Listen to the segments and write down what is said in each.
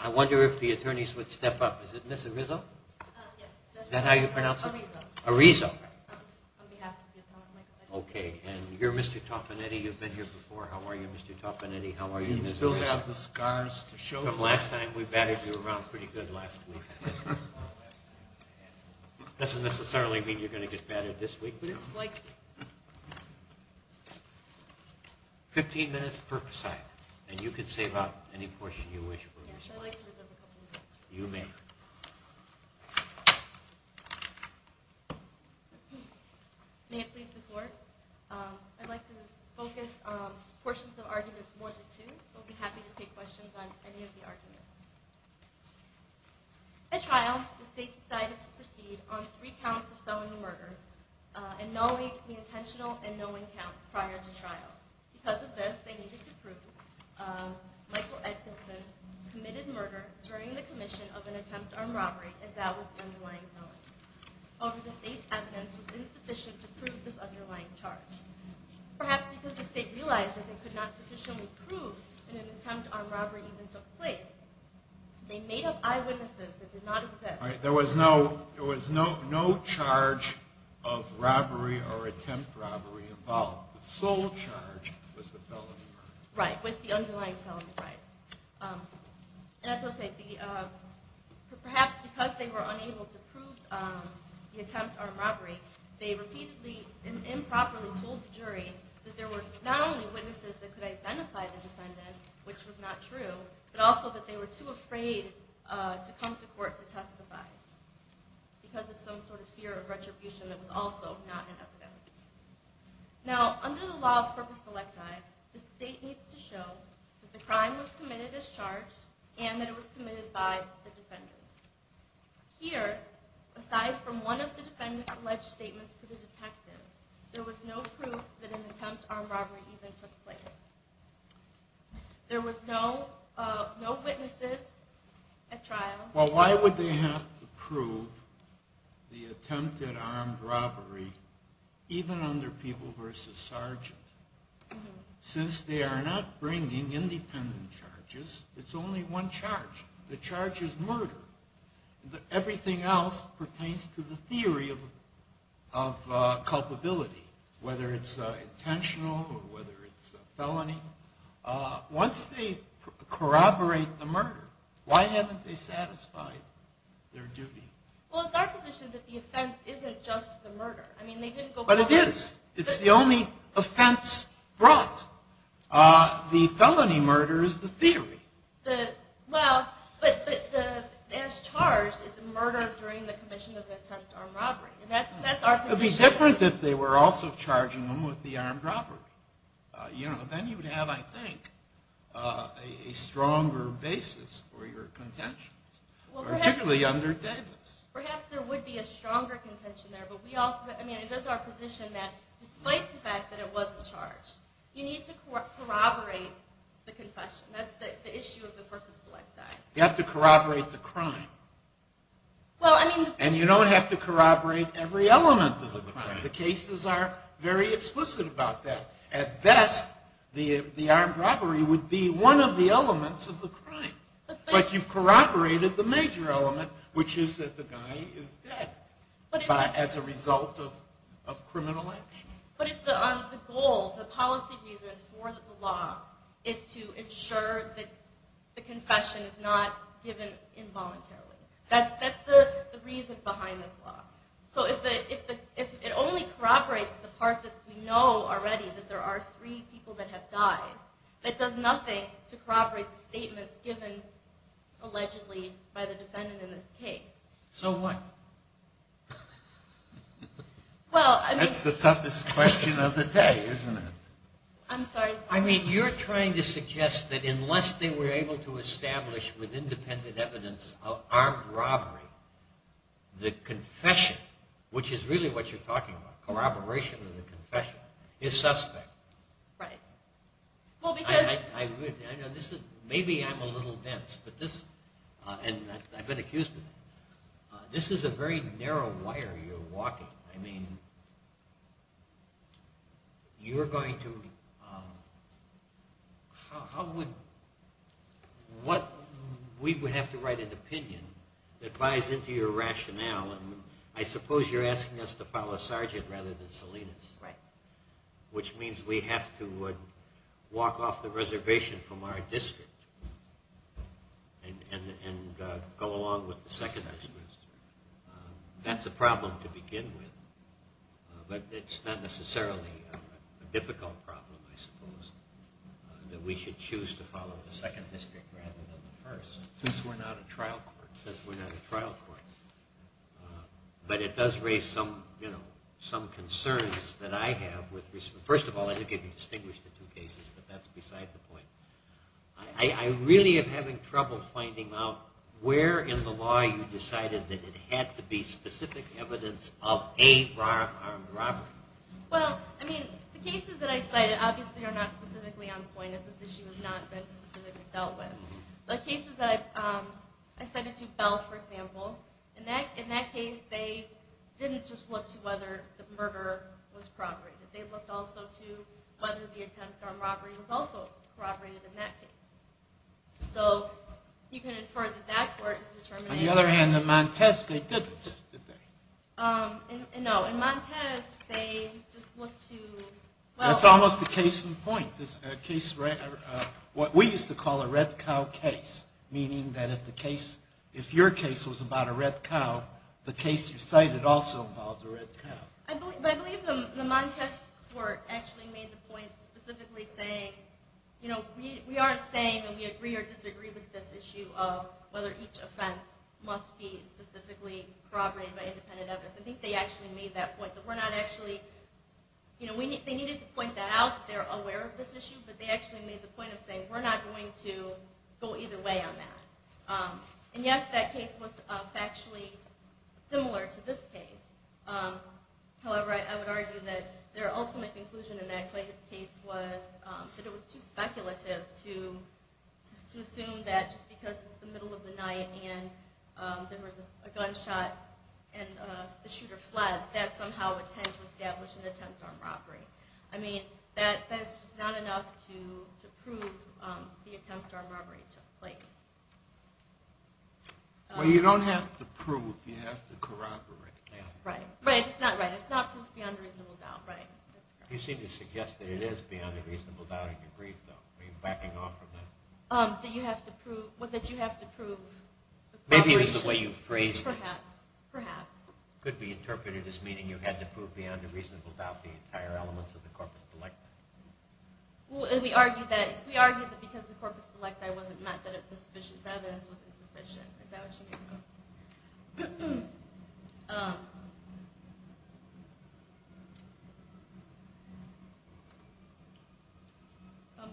I wonder if the attorneys would step up. Is it Ms. Arizo? Yes. Is that how you pronounce it? Arizo. Arizo. On behalf of the Attorney Michael Edgleston. Okay. And you're Mr. Toppanetti. You've been here before. How are you, Mr. Toppanetti? We still have the scars to show. From last time. We battered you around pretty good last week. That doesn't necessarily mean you're going to get battered this week, but it's likely. Fifteen minutes per side. And you can save up any portion you wish for. Yes, I'd like to reserve a couple minutes. You may. May it please the Court. I'd like to focus portions of arguments more than two, but would be happy to take questions on any of the arguments. At trial, the State decided to proceed on three counts of felony murder and nulling the intentional and nulling counts prior to trial. Because of this, they needed to prove Michael Edgleston committed murder during the commission of an attempt armed robbery, as that was the underlying felony. However, the State's evidence was insufficient to prove this underlying charge. Perhaps because the State realized that they could not sufficiently prove that an attempt armed robbery even took place, they made up eyewitnesses that did not exist. There was no charge of robbery or attempt robbery involved. The sole charge was the felony murder. Right, with the underlying felony. Perhaps because they were unable to prove the attempt armed robbery, they repeatedly and improperly told the jury that there were not only witnesses that could identify the defendant, which was not true, but also that they were too afraid to come to court to testify because of some sort of fear of retribution that was also not in evidence. Now, under the law of purpose electi, the State needs to show that the crime was committed as charged and that it was committed by the defendant. Here, aside from one of the defendant's alleged statements to the detective, there was no proof that an attempt armed robbery even took place. There was no witnesses at trial. Well, why would they have to prove the attempt at armed robbery, even under people versus sergeant? Since they are not bringing independent charges, it's only one charge. The charge is murder. Everything else pertains to the theory of culpability, whether it's intentional or whether it's a felony. Once they corroborate the murder, why haven't they satisfied their duty? Well, it's our position that the offense isn't just the murder. But it is. It's the only offense brought. The felony murder is the theory. Well, but as charged, it's a murder during the commission of the attempt on robbery. It would be different if they were also charging them with the armed robbery. Then you would have, I think, a stronger basis for your contentions, particularly under Davis. Perhaps there would be a stronger contention there. But it is our position that, despite the fact that it wasn't charged, you need to corroborate the confession. That's the issue of the Purpose Select Act. You have to corroborate the crime. And you don't have to corroborate every element of the crime. The cases are very explicit about that. At best, the armed robbery would be one of the elements of the crime. But you've corroborated the major element, which is that the guy is dead as a result of criminal action. But it's the goal, the policy reason for the law is to ensure that the confession is not given involuntarily. That's the reason behind this law. So if it only corroborates the part that we know already, that there are three people that have died, that does nothing to corroborate the statements given, allegedly, by the defendant in this case. So what? That's the toughest question of the day, isn't it? I'm sorry. I mean, you're trying to suggest that unless they were able to establish with independent evidence of armed robbery, the confession, which is really what you're talking about, corroboration of the confession, is suspect. Right. Maybe I'm a little dense, but this, and I've been accused of it, this is a very narrow wire you're walking. I mean, you're going to, how would, what, we would have to write an opinion that buys into your rationale. I suppose you're asking us to follow Sargent rather than Salinas. Right. Which means we have to walk off the reservation from our district and go along with the second district. That's a problem to begin with, but it's not necessarily a difficult problem, I suppose, that we should choose to follow the second district rather than the first. Since we're not a trial court. Since we're not a trial court. But it does raise some concerns that I have. First of all, I think I can distinguish the two cases, but that's beside the point. I really am having trouble finding out where in the law you decided that it had to be specific evidence of a armed robbery. Well, I mean, the cases that I cited obviously are not specifically on point as this issue has not been specifically dealt with. The cases that I cited to Bell, for example, in that case they didn't just look to whether the murder was corroborated. They looked also to whether the attempt on robbery was also corroborated in that case. So you can infer that that court is determining. On the other hand, in Montez they didn't, did they? No, in Montez they just looked to... That's almost a case in point. What we used to call a red cow case, meaning that if your case was about a red cow, the case you cited also involved a red cow. I believe the Montez court actually made the point specifically saying, you know, we aren't saying that we agree or disagree with this issue of whether each offense must be specifically corroborated by independent evidence. I think they actually made that point that we're not actually... You know, they needed to point that out that they're aware of this issue, but they actually made the point of saying we're not going to go either way on that. And yes, that case was factually similar to this case. However, I would argue that their ultimate conclusion in that case was that it was too speculative to assume that just because it's the middle of the night and there was a gunshot and the shooter fled, that somehow would tend to establish an attempt on robbery. I mean, that's just not enough to prove the attempt on robbery took place. Well, you don't have to prove. You have to corroborate. Right. Right. It's not right. It's not proof beyond a reasonable doubt. Right. You seem to suggest that it is beyond a reasonable doubt in your brief, though. Are you backing off from that? That you have to prove... Maybe it's the way you phrased it. Perhaps. Perhaps. Could be interpreted as meaning you had to prove beyond a reasonable doubt the entire elements of the corpus delicti. We argued that because the corpus delicti wasn't met, that the evidence wasn't sufficient. Is that what you mean?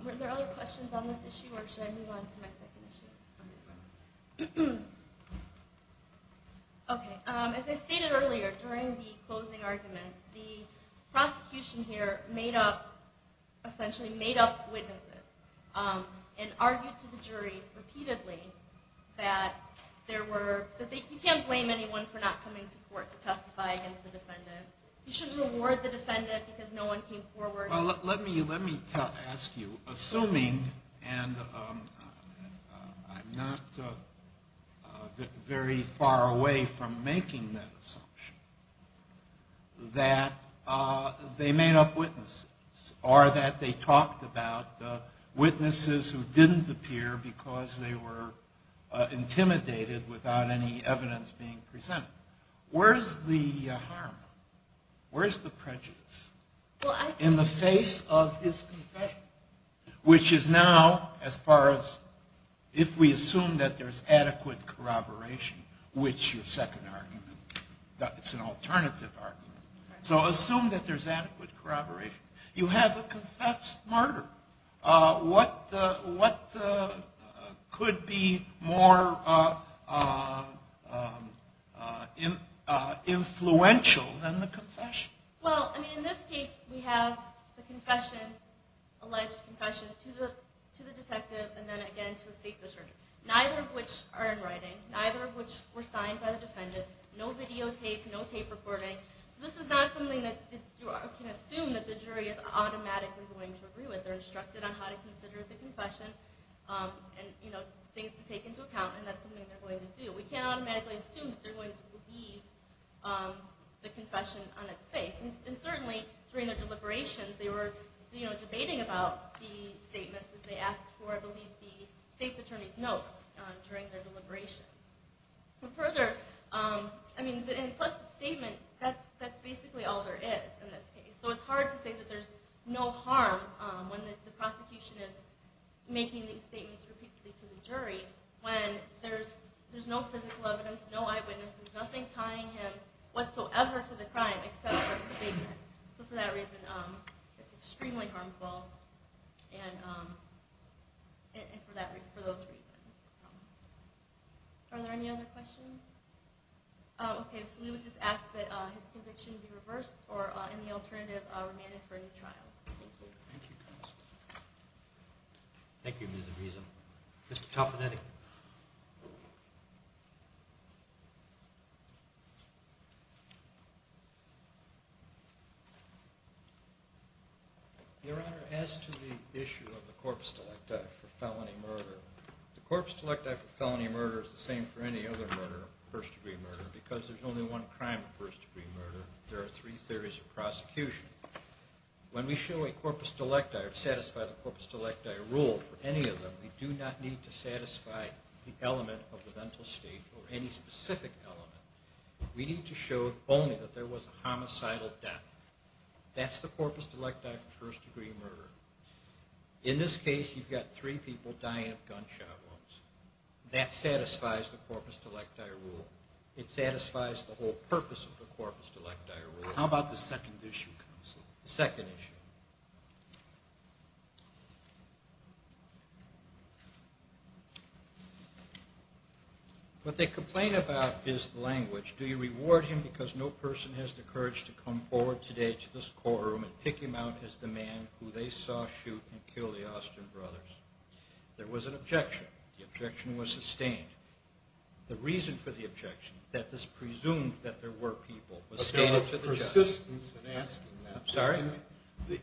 Were there other questions on this issue, or should I move on to my second issue? Okay. As I stated earlier, during the closing arguments, the prosecution here made up, essentially made up witnesses and argued to the jury repeatedly that you can't blame anyone for not coming to court to testify against the defendant. You shouldn't reward the defendant because no one came forward. Well, let me ask you. Assuming, and I'm not very far away from making that assumption, that they made up witnesses, or that they talked about witnesses who didn't appear because they were intimidated without any evidence being presented, where's the harm? Where's the prejudice? In the face of his confession. Which is now, as far as, if we assume that there's adequate corroboration, which your second argument, it's an alternative argument. So assume that there's adequate corroboration. You have a confessed murder. What could be more influential than the confession? Well, I mean, in this case, we have the confession, alleged confession, to the detective and then again to a state judge. Neither of which are in writing. Neither of which were signed by the defendant. No videotape, no tape recording. So this is not something that you can assume that the jury is automatically going to agree with. They're instructed on how to consider the confession and things to take into account and that's something they're going to do. We can't automatically assume that they're going to believe the confession on its face. And certainly, during the deliberations, they were debating about the statements that they asked for. And I believe the state attorney's notes during their deliberations. Further, I mean, plus the statement, that's basically all there is in this case. So it's hard to say that there's no harm when the prosecution is making these statements repeatedly to the jury when there's no physical evidence, no eyewitnesses, nothing tying him whatsoever to the crime except for the statement. So for that reason, it's extremely harmful. And for those reasons. Are there any other questions? Okay. So we would just ask that his conviction be reversed or any alternative remanded for a new trial. Thank you. Thank you, counsel. Thank you, Ms. Aviza. Mr. Taffanetti. Your Honor, as to the issue of the corpus delecti for felony murder, the corpus delecti for felony murder is the same for any other murder, first-degree murder, because there's only one crime of first-degree murder. There are three theories of prosecution. When we show a corpus delecti or satisfy the corpus delecti rule for any of them, we do not need to satisfy the element of the mental state or any specific element. We need to show only that there was a homicidal death. That's the corpus delecti for first-degree murder. In this case, you've got three people dying of gunshot wounds. That satisfies the corpus delecti rule. It satisfies the whole purpose of the corpus delecti rule. How about the second issue, counsel? The second issue. What they complain about is the language. Do you reward him because no person has the courage to come forward today to this courtroom and pick him out as the man who they saw shoot and kill the Austin brothers? There was an objection. The objection was sustained. The reason for the objection, that this presumed that there were people, was stated for the judge. But there was persistence in asking that. I'm sorry?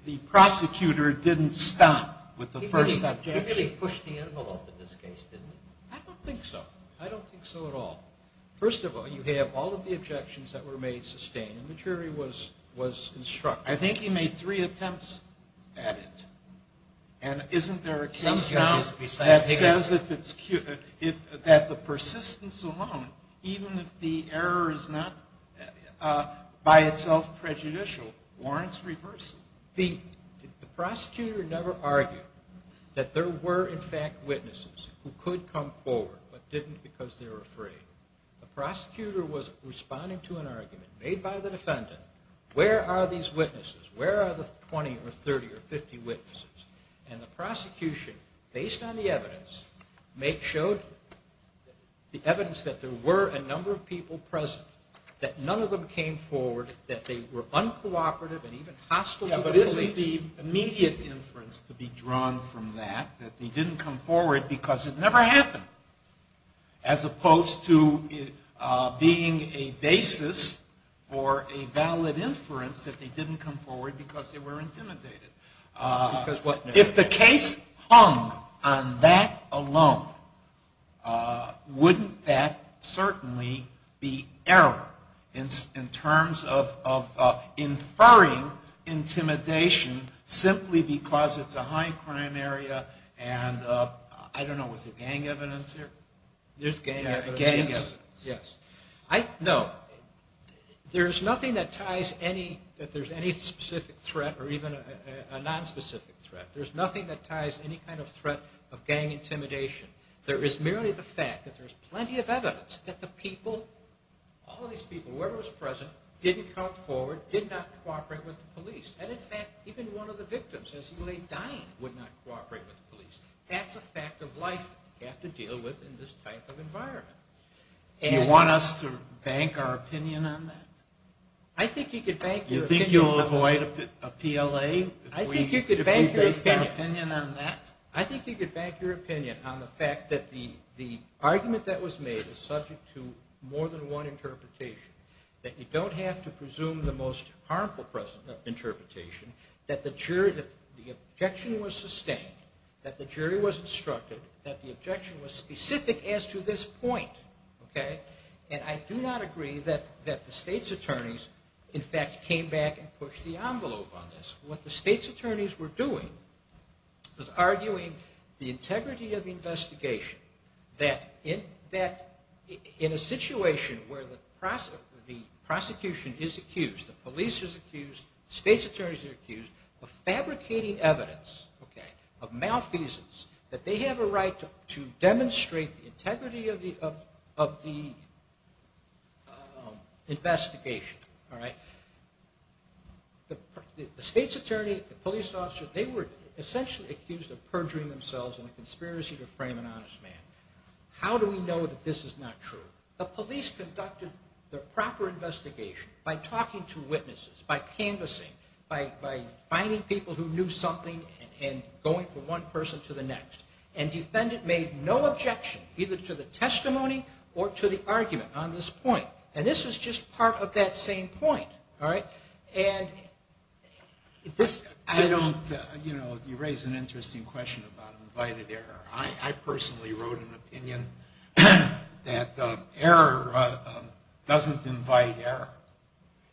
The prosecutor didn't stop with the first objection. He really pushed the envelope in this case, didn't he? I don't think so. I don't think so at all. First of all, you have all of the objections that were made sustained, and the jury was instructive. I think he made three attempts at it. And isn't there a case now that says that the persistence alone, even if the error is not by itself prejudicial, warrants reversal? The prosecutor never argued that there were, in fact, witnesses who could come forward but didn't because they were afraid. The prosecutor was responding to an argument made by the defendant. Where are these witnesses? Where are the 20 or 30 or 50 witnesses? And the prosecution, based on the evidence, showed the evidence that there were a number of people present, that none of them came forward, that they were uncooperative and even hostile to the police. But isn't the immediate inference to be drawn from that, that they didn't come forward because it never happened, as opposed to being a basis for a valid inference that they didn't come forward because they were intimidated? If the case hung on that alone, wouldn't that certainly be error in terms of inferring intimidation simply because it's a high crime area and I don't know, was there gang evidence here? There's gang evidence, yes. No, there's nothing that ties any, that there's any specific threat or even a nonspecific threat. There's nothing that ties any kind of threat of gang intimidation. There is merely the fact that there's plenty of evidence that the people, all these people, whoever was present, didn't come forward, did not cooperate with the police. And in fact, even one of the victims as he lay dying would not cooperate with the police. That's a fact of life you have to deal with in this type of environment. Do you want us to bank our opinion on that? I think you could bank your opinion on that. You think you'll avoid a PLA if we base our opinion on that? I think you could bank your opinion on the fact that the argument that was made is subject to more than one interpretation, that you don't have to presume the most harmful interpretation, that the objection was sustained, that the jury was instructed, that the objection was specific as to this point. And I do not agree that the state's attorneys, in fact, came back and pushed the envelope on this. What the state's attorneys were doing was arguing the integrity of the investigation, that in a situation where the prosecution is accused, the police is accused, the state's attorneys are accused of fabricating evidence of malfeasance, that they have a right to demonstrate the integrity of the investigation. The state's attorney, the police officer, they were essentially accused of perjuring themselves in a conspiracy to frame an honest man. How do we know that this is not true? The police conducted the proper investigation by talking to witnesses, by canvassing, by finding people who knew something and going from one person to the next. And defendant made no objection either to the testimony or to the argument on this point. And this was just part of that same point. All right? And this, I don't, you know, you raise an interesting question about invited error. I personally wrote an opinion that error doesn't invite error.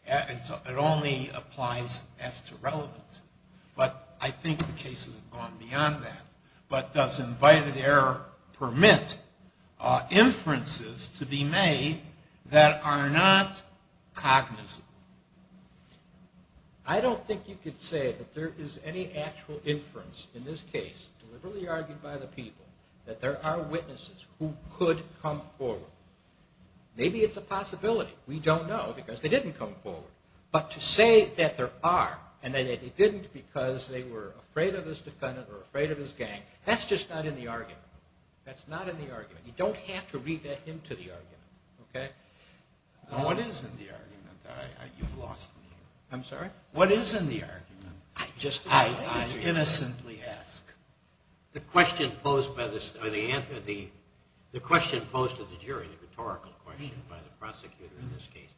It only applies as to relevance. But I think the case has gone beyond that. But does invited error permit inferences to be made that are not cognizant? I don't think you could say that there is any actual inference in this case, deliberately argued by the people, that there are witnesses who could come forward. Maybe it's a possibility. We don't know because they didn't come forward. But to say that there are and that they didn't because they were afraid of this defendant or afraid of his gang, that's just not in the argument. That's not in the argument. You don't have to read him to the argument. Okay? What is in the argument? You've lost me. I'm sorry? What is in the argument? I innocently ask. The question posed to the jury, the rhetorical question by the prosecutor in this case,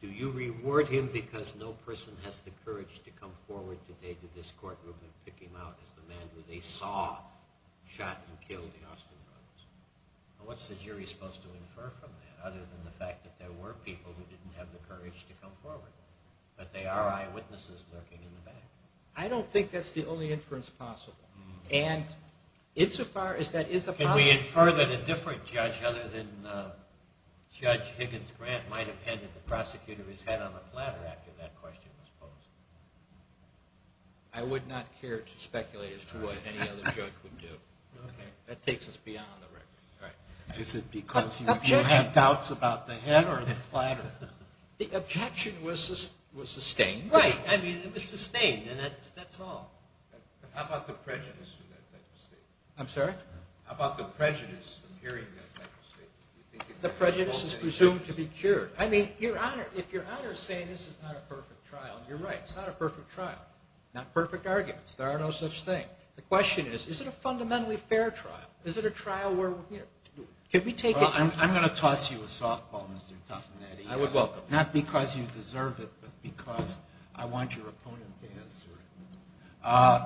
do you reward him because no person has the courage to come forward today to this courtroom and pick him out as the man who they saw shot and killed the Austin brothers? What's the jury supposed to infer from that other than the fact that there were people who didn't have the courage to come forward? But there are eyewitnesses lurking in the back. I don't think that's the only inference possible. And insofar as that is a possibility. Can we infer that a different judge other than Judge Higgins Grant might have handed the prosecutor his head on the platter after that question was posed? I would not care to speculate as to what any other judge would do. Okay. That takes us beyond the record. Right. Is it because you have doubts about the head or the platter? The objection was sustained. Right. I mean, it was sustained, and that's all. How about the prejudice in that type of statement? I'm sorry? How about the prejudice in hearing that type of statement? The prejudice is presumed to be cured. I mean, Your Honor, if Your Honor is saying this is not a perfect trial, you're right. It's not a perfect trial. Not perfect arguments. There are no such thing. The question is, is it a fundamentally fair trial? Is it a trial where, you know, can we take it? Well, I'm going to toss you a softball, Mr. Taffanetti. I would welcome it. Not because you deserve it, but because I want your opponent to answer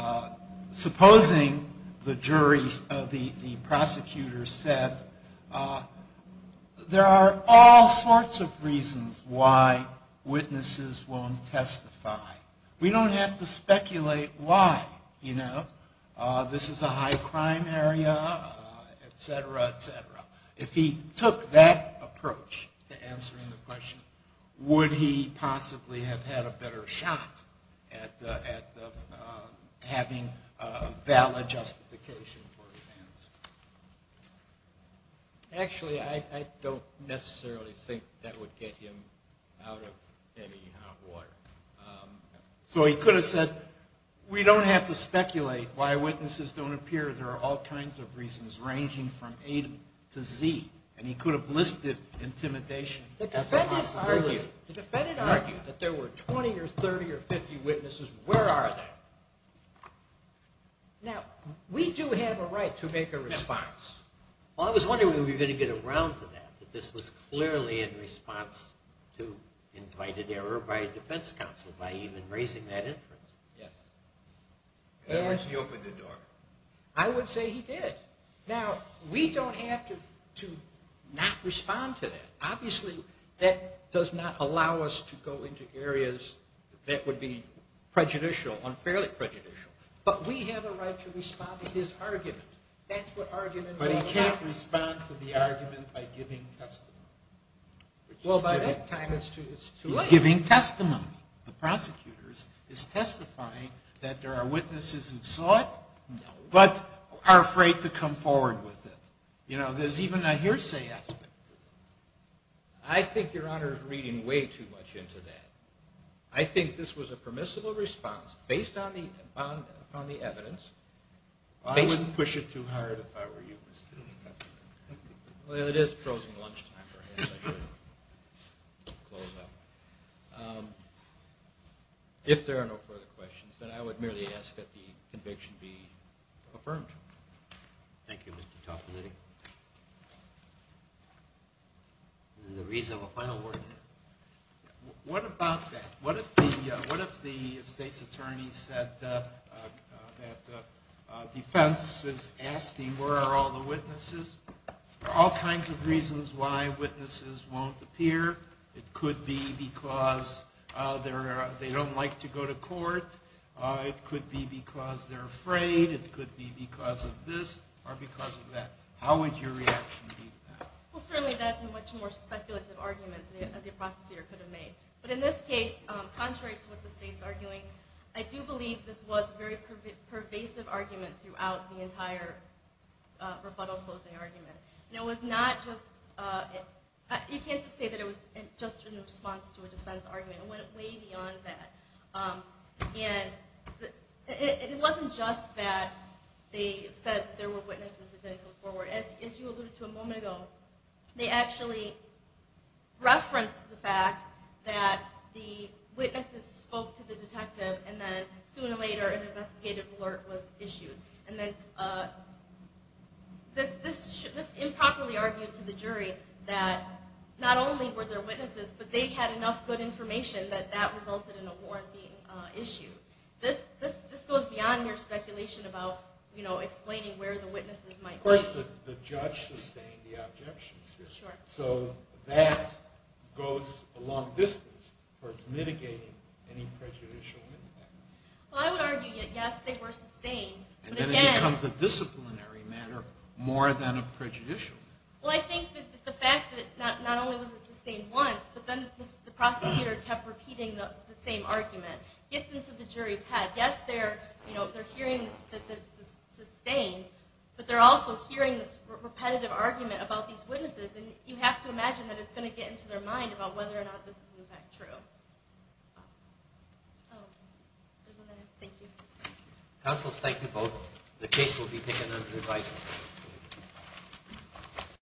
it. Supposing the jury, the prosecutor said, there are all sorts of reasons why witnesses won't testify. We don't have to speculate why, you know. This is a high crime area, et cetera, et cetera. If he took that approach to answering the question, would he possibly have had a better shot at having valid justification for his answer? Actually, I don't necessarily think that would get him out of any hot water. So he could have said, we don't have to speculate why witnesses don't appear. There are all kinds of reasons, ranging from A to Z. And he could have listed intimidation as a possibility. The defendant argued that there were 20 or 30 or 50 witnesses. Where are they? Now, we do have a right to make a response. Well, I was wondering if we were going to get around to that, that this was clearly in response to invited error by a defense counsel by even raising that inference. Yes. Why didn't he open the door? I would say he did. Now, we don't have to not respond to that. Obviously, that does not allow us to go into areas that would be prejudicial, unfairly prejudicial. But we have a right to respond to his argument. That's what argument is all about. But he can't respond to the argument by giving testimony. Well, by that time, it's too late. The prosecutor is testifying that there are witnesses who saw it but are afraid to come forward with it. You know, there's even a hearsay aspect to it. I think Your Honor is reading way too much into that. I think this was a permissible response based upon the evidence. I wouldn't push it too hard if I were you, Mr. Detective. Well, it is frozen lunchtime, perhaps I should close up. If there are no further questions, then I would merely ask that the conviction be affirmed. Thank you, Mr. Topolini. There's a reasonable final word here. What about that? What if the state's attorney said that defense is asking where are all the witnesses? There are all kinds of reasons why witnesses won't appear. It could be because they don't like to go to court. It could be because they're afraid. It could be because of this or because of that. How would your reaction be to that? Well, certainly that's a much more speculative argument that the prosecutor could have made. But in this case, contrary to what the state's arguing, I do believe this was a very pervasive argument throughout the entire rebuttal closing argument. And it was not just... You can't just say that it was just in response to a defense argument. It went way beyond that. And it wasn't just that they said there were witnesses that didn't come forward. As you alluded to a moment ago, they actually referenced the fact that the witnesses spoke to the detective and then sooner or later an investigative alert was issued. And then this improperly argued to the jury that not only were there witnesses, but they had enough good information that that resulted in a warrant being issued. This goes beyond your speculation about explaining where the witnesses might be. Of course, the judge sustained the objections here. So that goes a long distance towards mitigating any prejudicial impact. Well, I would argue that, yes, they were sustained. And then it becomes a disciplinary matter more than a prejudicial matter. Well, I think that the fact that not only was it sustained once, but then the prosecutor kept repeating the same argument gets into the jury's head. Yes, they're hearing that it's sustained, and you have to imagine that it's going to get into their mind about whether or not this is, in fact, true. Oh, there's one there. Thank you. Counsels, thank you both. The case will be taken under advisement.